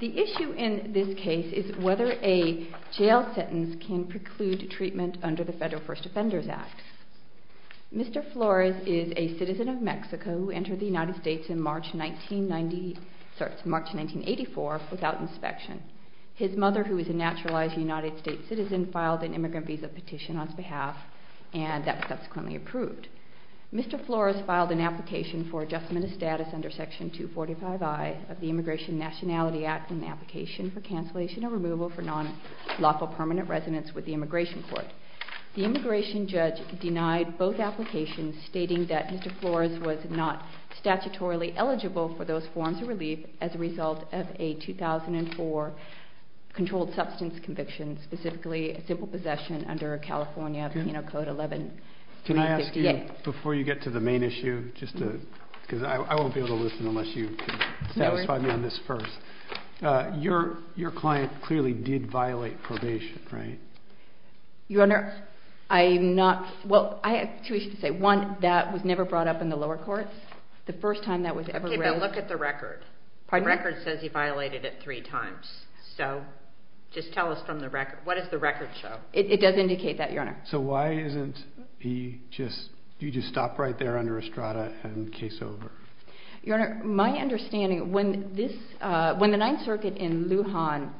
The issue in this case is whether a jail sentence can preclude treatment under the Federal First Amendment. The Federal Court of Appeals has ruled that the jail sentence for the death of a citizen of Mexico who entered the United States in March 1984 without inspection. His mother, who is a naturalized United States citizen, filed an immigrant visa petition on his behalf and that was subsequently approved. Mr. Flores filed an application for adjustment of status under Section 245I of the Immigration Nationality Act in the application for cancellation or removal for non-lawful permanent residence with the Immigration Court. The immigration judge denied both applications, stating that Mr. Flores was not statutorily eligible for those forms of relief as a result of a 2004 controlled substance conviction, specifically a simple possession under California Penal Code 11-358. Can I ask you, before you get to the main issue, just to, because I won't be able to listen unless you satisfy me on this first, your client clearly did violate probation, right? Your Honor, I'm not, well, I have two issues to say. One, that was never brought up in the lower courts. The first time that was ever raised. Okay, but look at the record. Pardon me? The record says he violated it three times, so just tell us from the record, what does the record show? It does indicate that, Your Honor. So why isn't he just, you just stop right there under Estrada and case over? Your Honor, my understanding, when this, when the Ninth Circuit in Lujan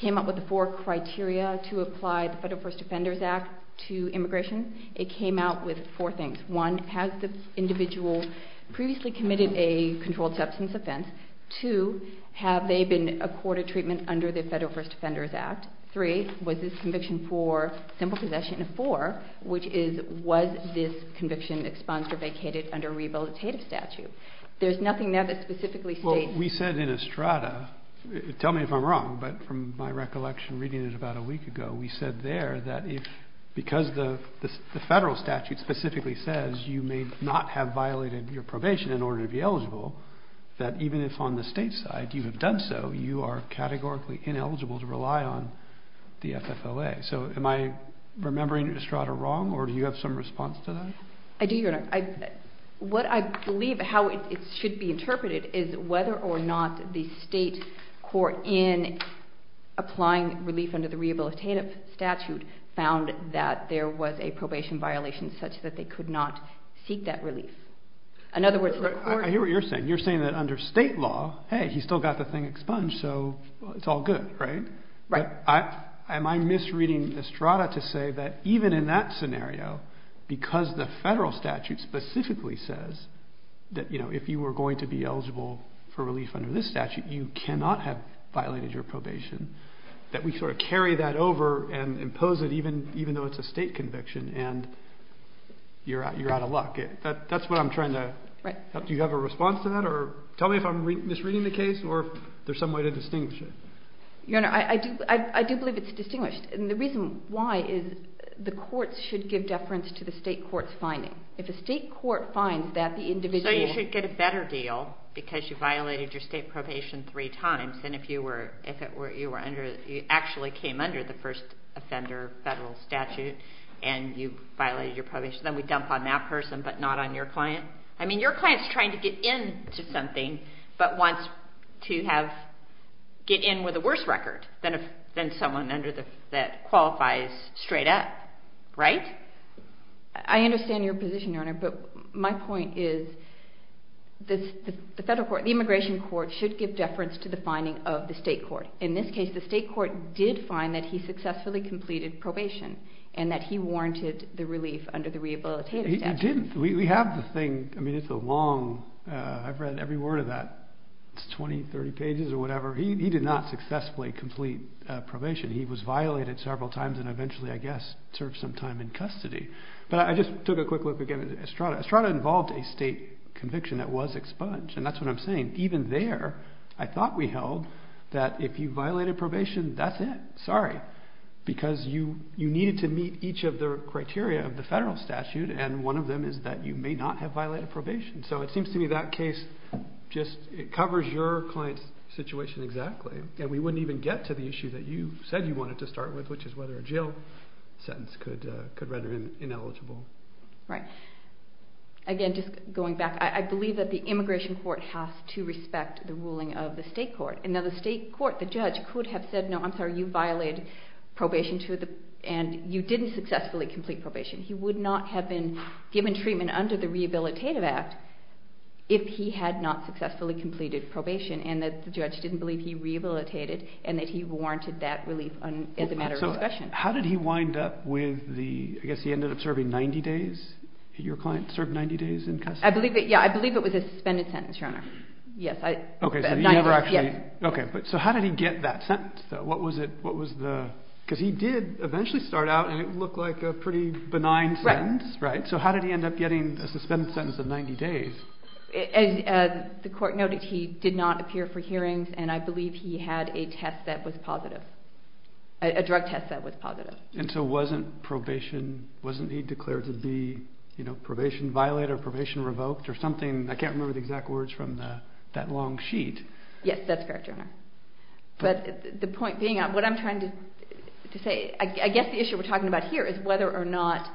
came up with the four criteria to apply the Federal First Defenders Act to immigration, it came out with four things. One, has the individual previously committed a controlled substance offense? Two, have they been accorded treatment under the Federal First Defenders Act? Three, was this conviction for simple possession? And four, which is, was this conviction expunged or vacated under a rehabilitative statute? There's nothing there that specifically states... Well, we said in Estrada, tell me if I'm wrong, but from my recollection reading it about a week ago, we said there that if, because the Federal statute specifically says you may not have violated your probation in order to be eligible, that even if on the state side you have done so, you are categorically ineligible to rely on the FFOA. So am I remembering Estrada wrong, or do you have some response to that? I do, Your Honor. What I believe how it should be interpreted is whether or not the state court in applying relief under the rehabilitative statute found that there was a probation violation such that they could not seek that relief. In other words, the court... I hear what you're saying. You're saying that under state law, hey, he still got the thing expunged, so it's all good, right? Right. Am I misreading Estrada to say that even in that scenario, because the Federal statute specifically says that, you know, if you were going to be eligible for relief under this statute, you cannot have violated your probation, that we sort of carry that over and impose it even though it's a state conviction, and you're out of luck? That's what I'm trying to... Right. Do you have a response to that? Tell me if I'm misreading the case or if there's some way to distinguish it. Your Honor, I do believe it's distinguished, and the reason why is the courts should give deference to the state court's finding. If a state court finds that the individual... So you should get a better deal because you violated your state probation three times, and if you were under... You actually came under the first offender Federal statute, and you violated your probation, then we dump on that person, but not on your client? I mean, your client's trying to get in to something, but wants to get in with a worse record than someone that qualifies straight up, right? I understand your position, Your Honor, but my point is the immigration court should give deference to the finding of the state court. In this case, the state court did find that he successfully completed probation, and that he warranted the relief under the rehabilitative statute. He didn't. We have the thing. I mean, it's a long... I've read every word of that. It's 20, 30 pages or whatever. He did not successfully complete probation. He was violated several times, and eventually, I guess, served some time in custody, but I just took a quick look again at Estrada. Estrada involved a state conviction that was expunged, and that's what I'm saying. Even there, I thought we held that if you violated probation, that's it. Sorry. Because you needed to meet each of the criteria of the Federal statute, and one of them is that you may not have violated probation. So it seems to me that case just... It covers your client's situation exactly, and we wouldn't even get to the issue that you said you wanted to start with, which is whether a jail sentence could render him ineligible. Right. Again, just going back, I believe that the immigration court has to respect the ruling of the state court. Now, the state court, the judge, could have said, no, I'm sorry, you violated probation to the... And you didn't successfully complete probation. He would not have been given treatment under the Rehabilitative Act if he had not successfully completed probation, and that the judge didn't believe he rehabilitated, and that he warranted that relief as a matter of discretion. How did he wind up with the... I guess he ended up serving 90 days? Your client served 90 days in custody? I believe it was a suspended sentence, Your Honor. Yes. Okay, so you never actually... Yes. Okay. So how did he get that sentence, though? What was the... Because he did eventually start out, and it looked like a pretty benign sentence. Right. Right? So how did he end up getting a suspended sentence of 90 days? The court noted he did not appear for hearings, and I believe he had a test that was positive, a drug test that was positive. And so wasn't probation, wasn't he declared to be, you know, probation violated or probation revoked or something? I can't remember the exact words from that long sheet. Yes, that's correct, Your Honor. But the point being, what I'm trying to say, I guess the issue we're talking about here is whether or not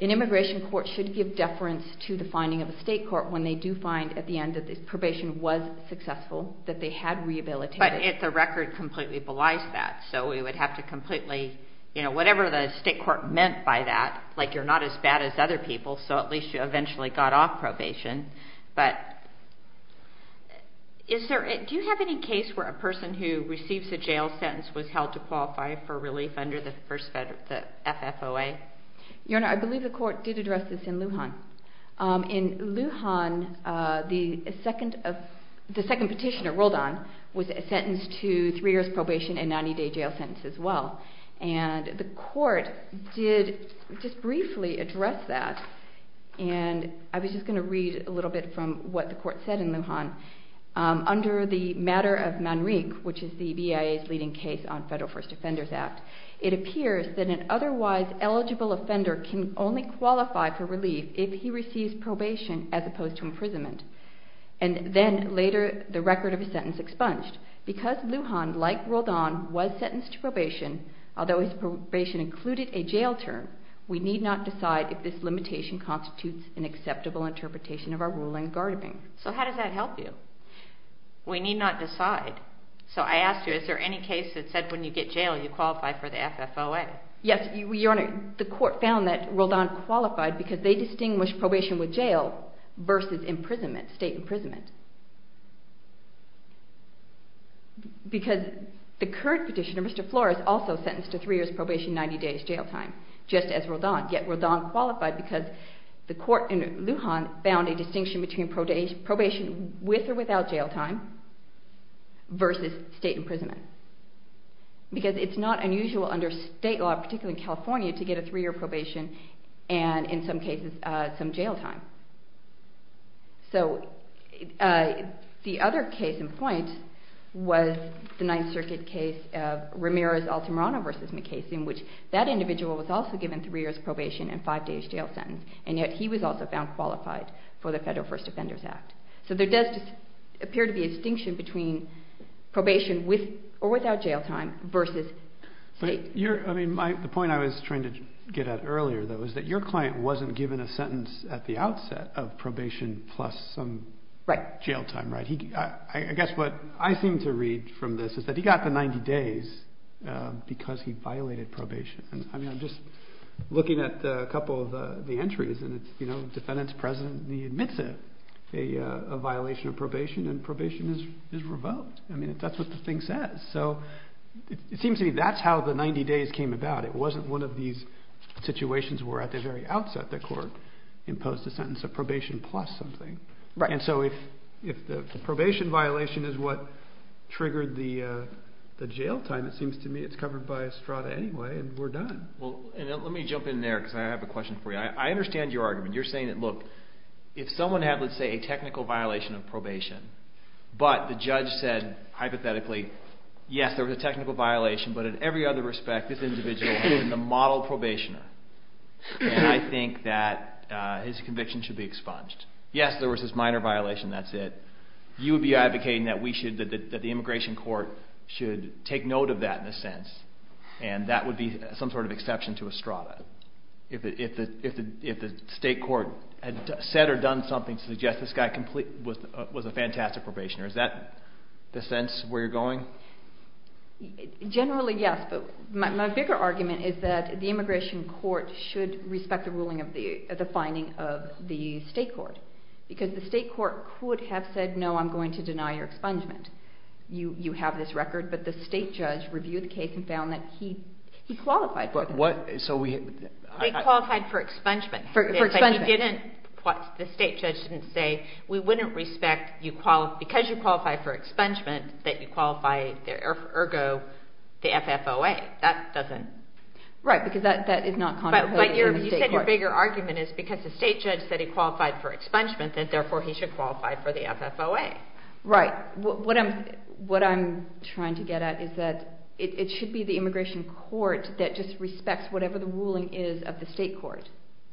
an immigration court should give deference to the finding of a state court when they do find at the end that the probation was successful, that they had rehabilitated... But the record completely belies that. So we would have to completely, you know, whatever the state court meant by that, like you're not as bad as other people, so at least you eventually got off probation. But do you have any case where a person who receives a jail sentence was held to qualify for relief under the first FFOA? Your Honor, I believe the court did address this in Lujan. In Lujan, the second petitioner, Roldan, was sentenced to three years probation and a 90 day jail sentence as well. And the court did just briefly address that. And I was just going to read a little bit from what the court said in Lujan. Under the matter of Manrique, which is the BIA's leading case on Federal First Offenders Act, it appears that an otherwise eligible offender can only qualify for relief if he receives probation as opposed to imprisonment. And then later, the record of his sentence expunged. Because Lujan, like Roldan, was sentenced to probation, although his probation included a jail term, we need not decide if this limitation constitutes an acceptable interpretation of our ruling in Gardabing. So how does that help you? We need not decide. So I asked you, is there any case that said when you get jail you qualify for the FFOA? Yes, Your Honor, the court found that Roldan qualified because they distinguished probation with jail versus imprisonment, state imprisonment. Because the current petitioner, Mr. Flores, also sentenced to three years probation, 90 days jail time, just as Roldan. Yet Roldan qualified because the court in Lujan found a distinction between probation with or without jail time versus state imprisonment. Because it's not unusual under state law, particularly in California, to get a three-year probation and, in some cases, some jail time. So the other case in point was the Ninth Circuit case of Ramirez-Altamirano v. McKay, in which that individual was also given three years probation and five days jail sentence, and yet he was also found qualified for the Federal First Offenders Act. So there does appear to be a distinction between probation with or without jail time versus state. But your, I mean, the point I was trying to get at earlier, though, is that your client wasn't given a sentence at the outset of probation plus some jail time, right? I guess what I seem to read from this is that he got the 90 days because he violated probation. And, I mean, I'm just looking at a couple of the entries, and it's, you know, defendant's present and he admits it, a violation of probation, and probation is revoked. I mean, that's what the thing says. So it seems to me that's how the 90 days came about. It wasn't one of these situations where at the very outset the court imposed a sentence of probation plus something. And so if the probation violation is what triggered the jail time, it seems to me it's Well, let me jump in there because I have a question for you. I understand your argument. You're saying that, look, if someone had, let's say, a technical violation of probation, but the judge said, hypothetically, yes, there was a technical violation, but in every other respect this individual is a model probationer, and I think that his conviction should be expunged. Yes, there was this minor violation, that's it. You would be advocating that we should, that the immigration court should take note of that in a sense, and that would be some sort of exception to a strata, if the state court had said or done something to suggest this guy was a fantastic probationer. Is that the sense where you're going? Generally, yes, but my bigger argument is that the immigration court should respect the ruling of the, the finding of the state court, because the state court could have said, no, I'm going to deny your expungement. You have this record, but the state judge reviewed the case and found that he, he qualified for it. But what, so we. They qualified for expungement. For expungement. But he didn't, the state judge didn't say, we wouldn't respect you, because you qualify for expungement, that you qualify, ergo, the FFOA. That doesn't. Right, because that, that is not contrary to the state court. But your, you said your bigger argument is because the state judge said he qualified for expungement, that therefore he should qualify for the FFOA. Right. What, what I'm, what I'm trying to get at is that it, it should be the immigration court that just respects whatever the ruling is of the state court.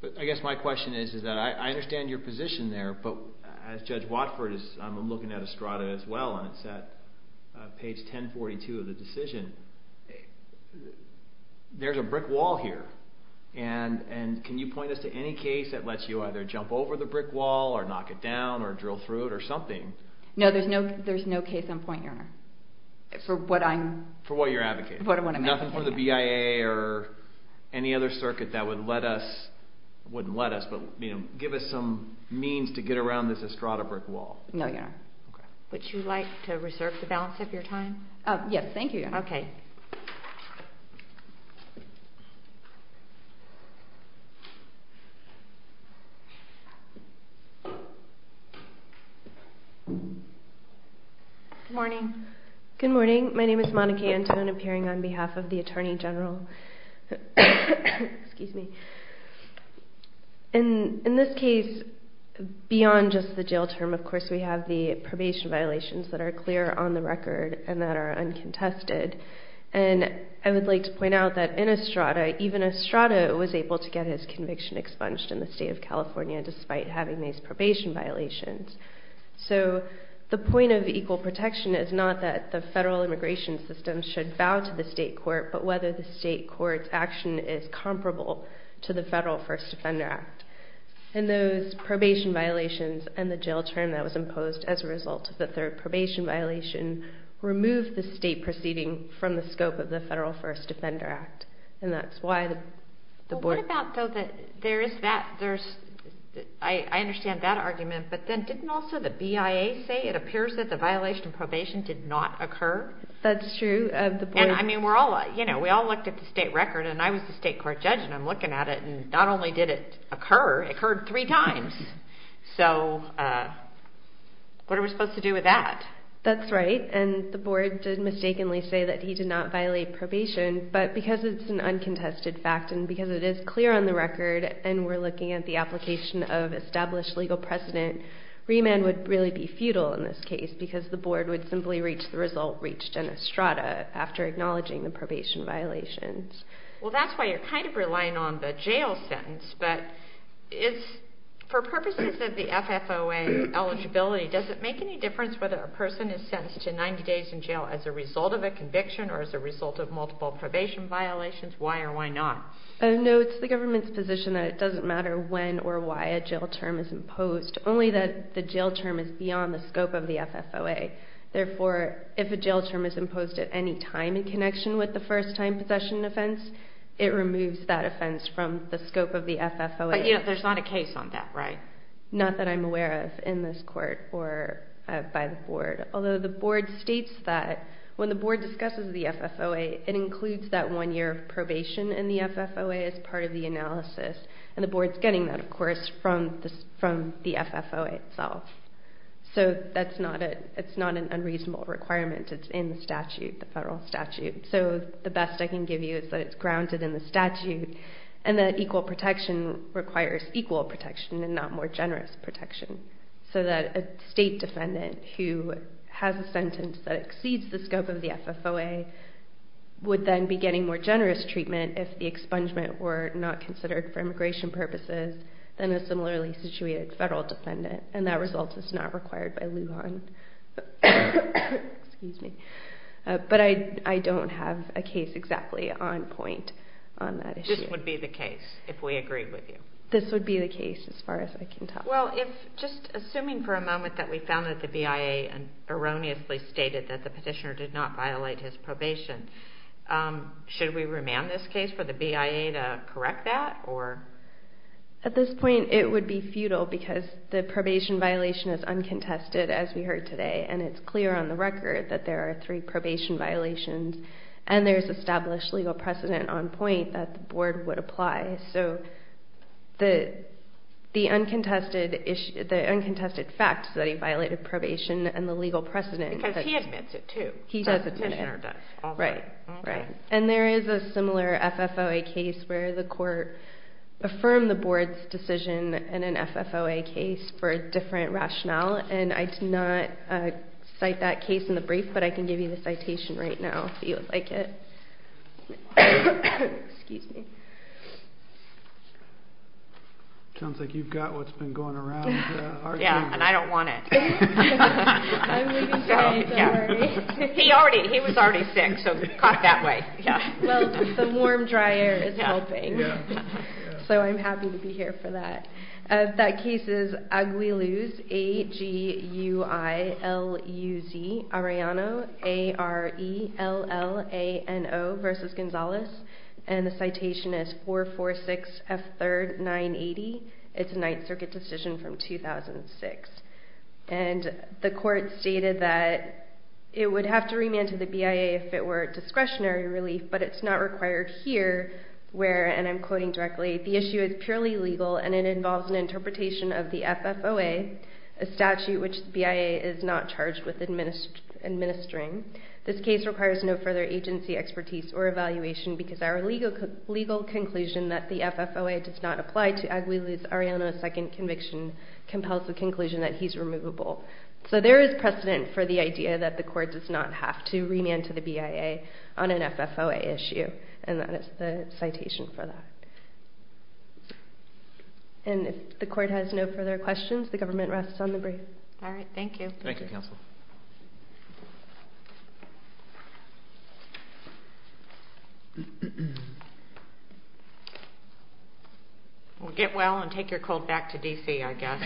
But I guess my question is, is that I, I understand your position there, but as Judge Watford is, I'm looking at Estrada as well, and it's at page 1042 of the decision. There's a brick wall here, and, and can you point us to any case that lets you either jump over the brick wall, or knock it down, or drill through it, or something? No, there's no, there's no case on point, Your Honor. For what I'm. For what you're advocating. For what I'm advocating. Nothing for the BIA or any other circuit that would let us, wouldn't let us, but, you know, give us some means to get around this Estrada brick wall. No, Your Honor. Okay. Would you like to reserve the balance of your time? Yes, thank you, Your Honor. Okay. Good morning. Good morning. My name is Monica Antone, appearing on behalf of the Attorney General, excuse me. In this case, beyond just the jail term, of course, we have the probation violations that are clear on the record, and that are uncontested. And I would like to point out that in Estrada, even Estrada was able to get his conviction expunged in the state of California, despite having these probation violations. So the point of equal protection is not that the federal immigration system should bow to the state court, but whether the state court's action is comparable to the Federal First Defender Act. And those probation violations and the jail term that was imposed as a result of the third probation violation removed the state proceeding from the scope of the Federal First Defender Act. And that's why the board... Well, what about, though, that there is that, there's... I understand that argument, but then didn't also the BIA say it appears that the violation of probation did not occur? That's true. And I mean, we're all, you know, we all looked at the state record, and I was the state court judge, and I'm looking at it, and not only did it occur, it occurred three times. So what are we supposed to do with that? That's right. And the board did mistakenly say that he did not violate probation, but because it's an uncontested fact, and because it is clear on the record, and we're looking at the application of established legal precedent, remand would really be futile in this case, because the board would simply reach the result reached in Estrada after acknowledging the probation violations. Well, that's why you're kind of relying on the jail sentence, but it's... For purposes of the FFOA eligibility, does it make any difference whether a person is sentenced to 90 days in jail as a result of a conviction or as a result of multiple probation violations? Why or why not? No, it's the government's position that it doesn't matter when or why a jail term is imposed, only that the jail term is beyond the scope of the FFOA. Therefore, if a jail term is imposed at any time in connection with the first-time possession offense, it removes that offense from the scope of the FFOA. But yet, there's not a case on that, right? Not that I'm aware of in this court or by the board, although the board states that when the board discusses the FFOA, it includes that one year of probation in the FFOA as part of the analysis, and the board's getting that, of course, from the FFOA itself. So that's not a... It's not an unreasonable requirement. It's in the statute, the federal statute. So the best I can give you is that it's grounded in the statute, and that equal protection requires equal protection and not more generous protection. So that a state defendant who has a sentence that exceeds the scope of the FFOA would then be getting more generous treatment if the expungement were not considered for immigration purposes than a similarly situated federal defendant. And that result is not required by Lujan. Excuse me. But I don't have a case exactly on point on that issue. This would be the case, if we agreed with you? This would be the case, as far as I can tell. Well, if... Just assuming for a moment that we found that the BIA erroneously stated that the petitioner did not violate his probation, should we remand this case for the BIA to correct that, or...? At this point, it would be futile because the probation violation is uncontested, as we heard today. And it's clear on the record that there are three probation violations, and there's established legal precedent on point that the board would apply. So the uncontested facts that he violated probation and the legal precedent... Because he admits it, too. He does admit it. The petitioner does. Right, right. And there is a similar FFOA case where the court affirmed the board's decision in an FFOA case for a different rationale. And I did not cite that case in the brief, but I can give you the citation right now, if you would like it. Excuse me. Sounds like you've got what's been going around. Yeah, and I don't want it. I'm really sorry. Don't worry. He already... He was already sick, so he's caught that way. Yeah. Well, the warm, dry air is helping. Yeah. Yeah. So I'm happy to be here for that. Okay. That case is Aguiluz, A-G-U-I-L-U-Z, Arellano, A-R-E-L-L-A-N-O, versus Gonzalez. And the citation is 446F3rd, 980. It's a Ninth Circuit decision from 2006. And the court stated that it would have to remand to the BIA if it were discretionary relief, but it's not required here where, and I'm quoting directly, the issue is purely legal and it involves an interpretation of the FFOA, a statute which the BIA is not charged with administering. This case requires no further agency, expertise, or evaluation because our legal conclusion that the FFOA does not apply to Aguiluz, Arellano's second conviction compels the conclusion that he's removable. So there is precedent for the idea that the court does not have to remand to the BIA on an FFOA issue. And that is the citation for that. And if the court has no further questions, the government rests on the brief. All right. Thank you. Thank you, counsel. Well, get well and take your cold back to D.C., I guess.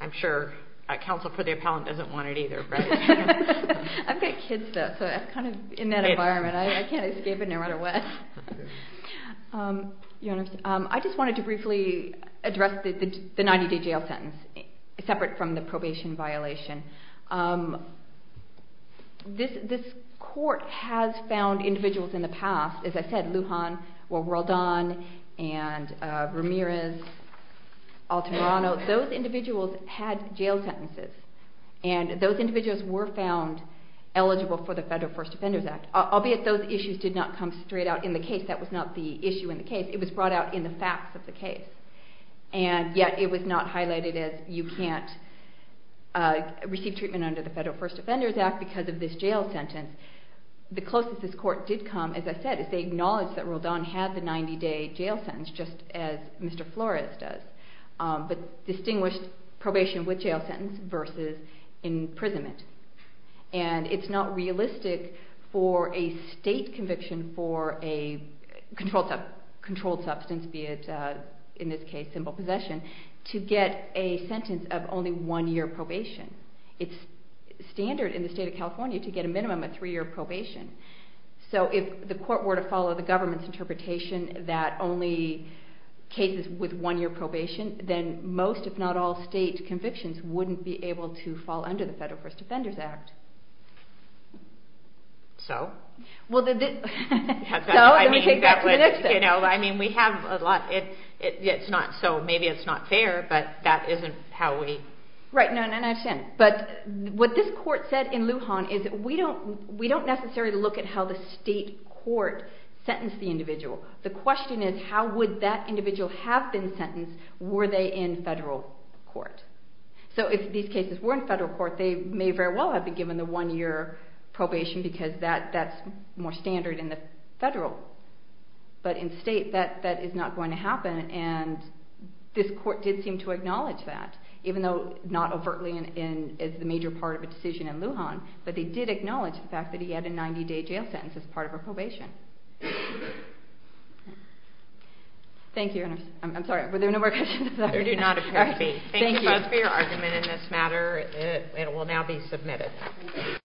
I'm sure a counsel for the appellant doesn't want it either, right? I've got kids, though, so I'm kind of in that environment. I can't escape it no matter what. I just wanted to briefly address the 90-day jail sentence, separate from the probation violation. This court has found individuals in the past, as I said, Lujan, Worldan, and Ramirez, Alterano, those individuals had jail sentences. And those individuals were found eligible for the Federal First Defenders Act, albeit those issues did not come straight out in the case. That was not the issue in the case. It was brought out in the facts of the case. And yet it was not highlighted as you can't receive treatment under the Federal First Defenders Act because of this jail sentence. The closest this court did come, as I said, is they acknowledged that Worldan had the 90-day jail sentence, just as Mr. Flores does. But distinguished probation with jail sentence versus imprisonment. And it's not realistic for a state conviction for a controlled substance, be it in this case simple possession, to get a sentence of only one year probation. It's standard in the state of California to get a minimum of three-year probation. So if the court were to follow the government's interpretation that only cases with one-year probation, then most, if not all, state convictions wouldn't be able to fall under the Federal First Defenders Act. So? So, let me take that to the next step. You know, I mean, we have a lot, it's not, so maybe it's not fair, but that isn't how we... Right, no, no, no, I understand. But what this court said in Lujan is that we don't necessarily look at how the state court sentenced the individual. The question is, how would that individual have been sentenced were they in federal court? So if these cases were in federal court, they may very well have been given the one-year probation because that's more standard in the federal. But in state, that is not going to happen, and this court did seem to acknowledge that, even though not overtly as the major part of a decision in Lujan, but they did acknowledge the fact that he had a 90-day jail sentence as part of a probation. Thank you. I'm sorry, were there no more questions? I do not appear to be. Thank you both for your argument in this matter. It will now be submitted.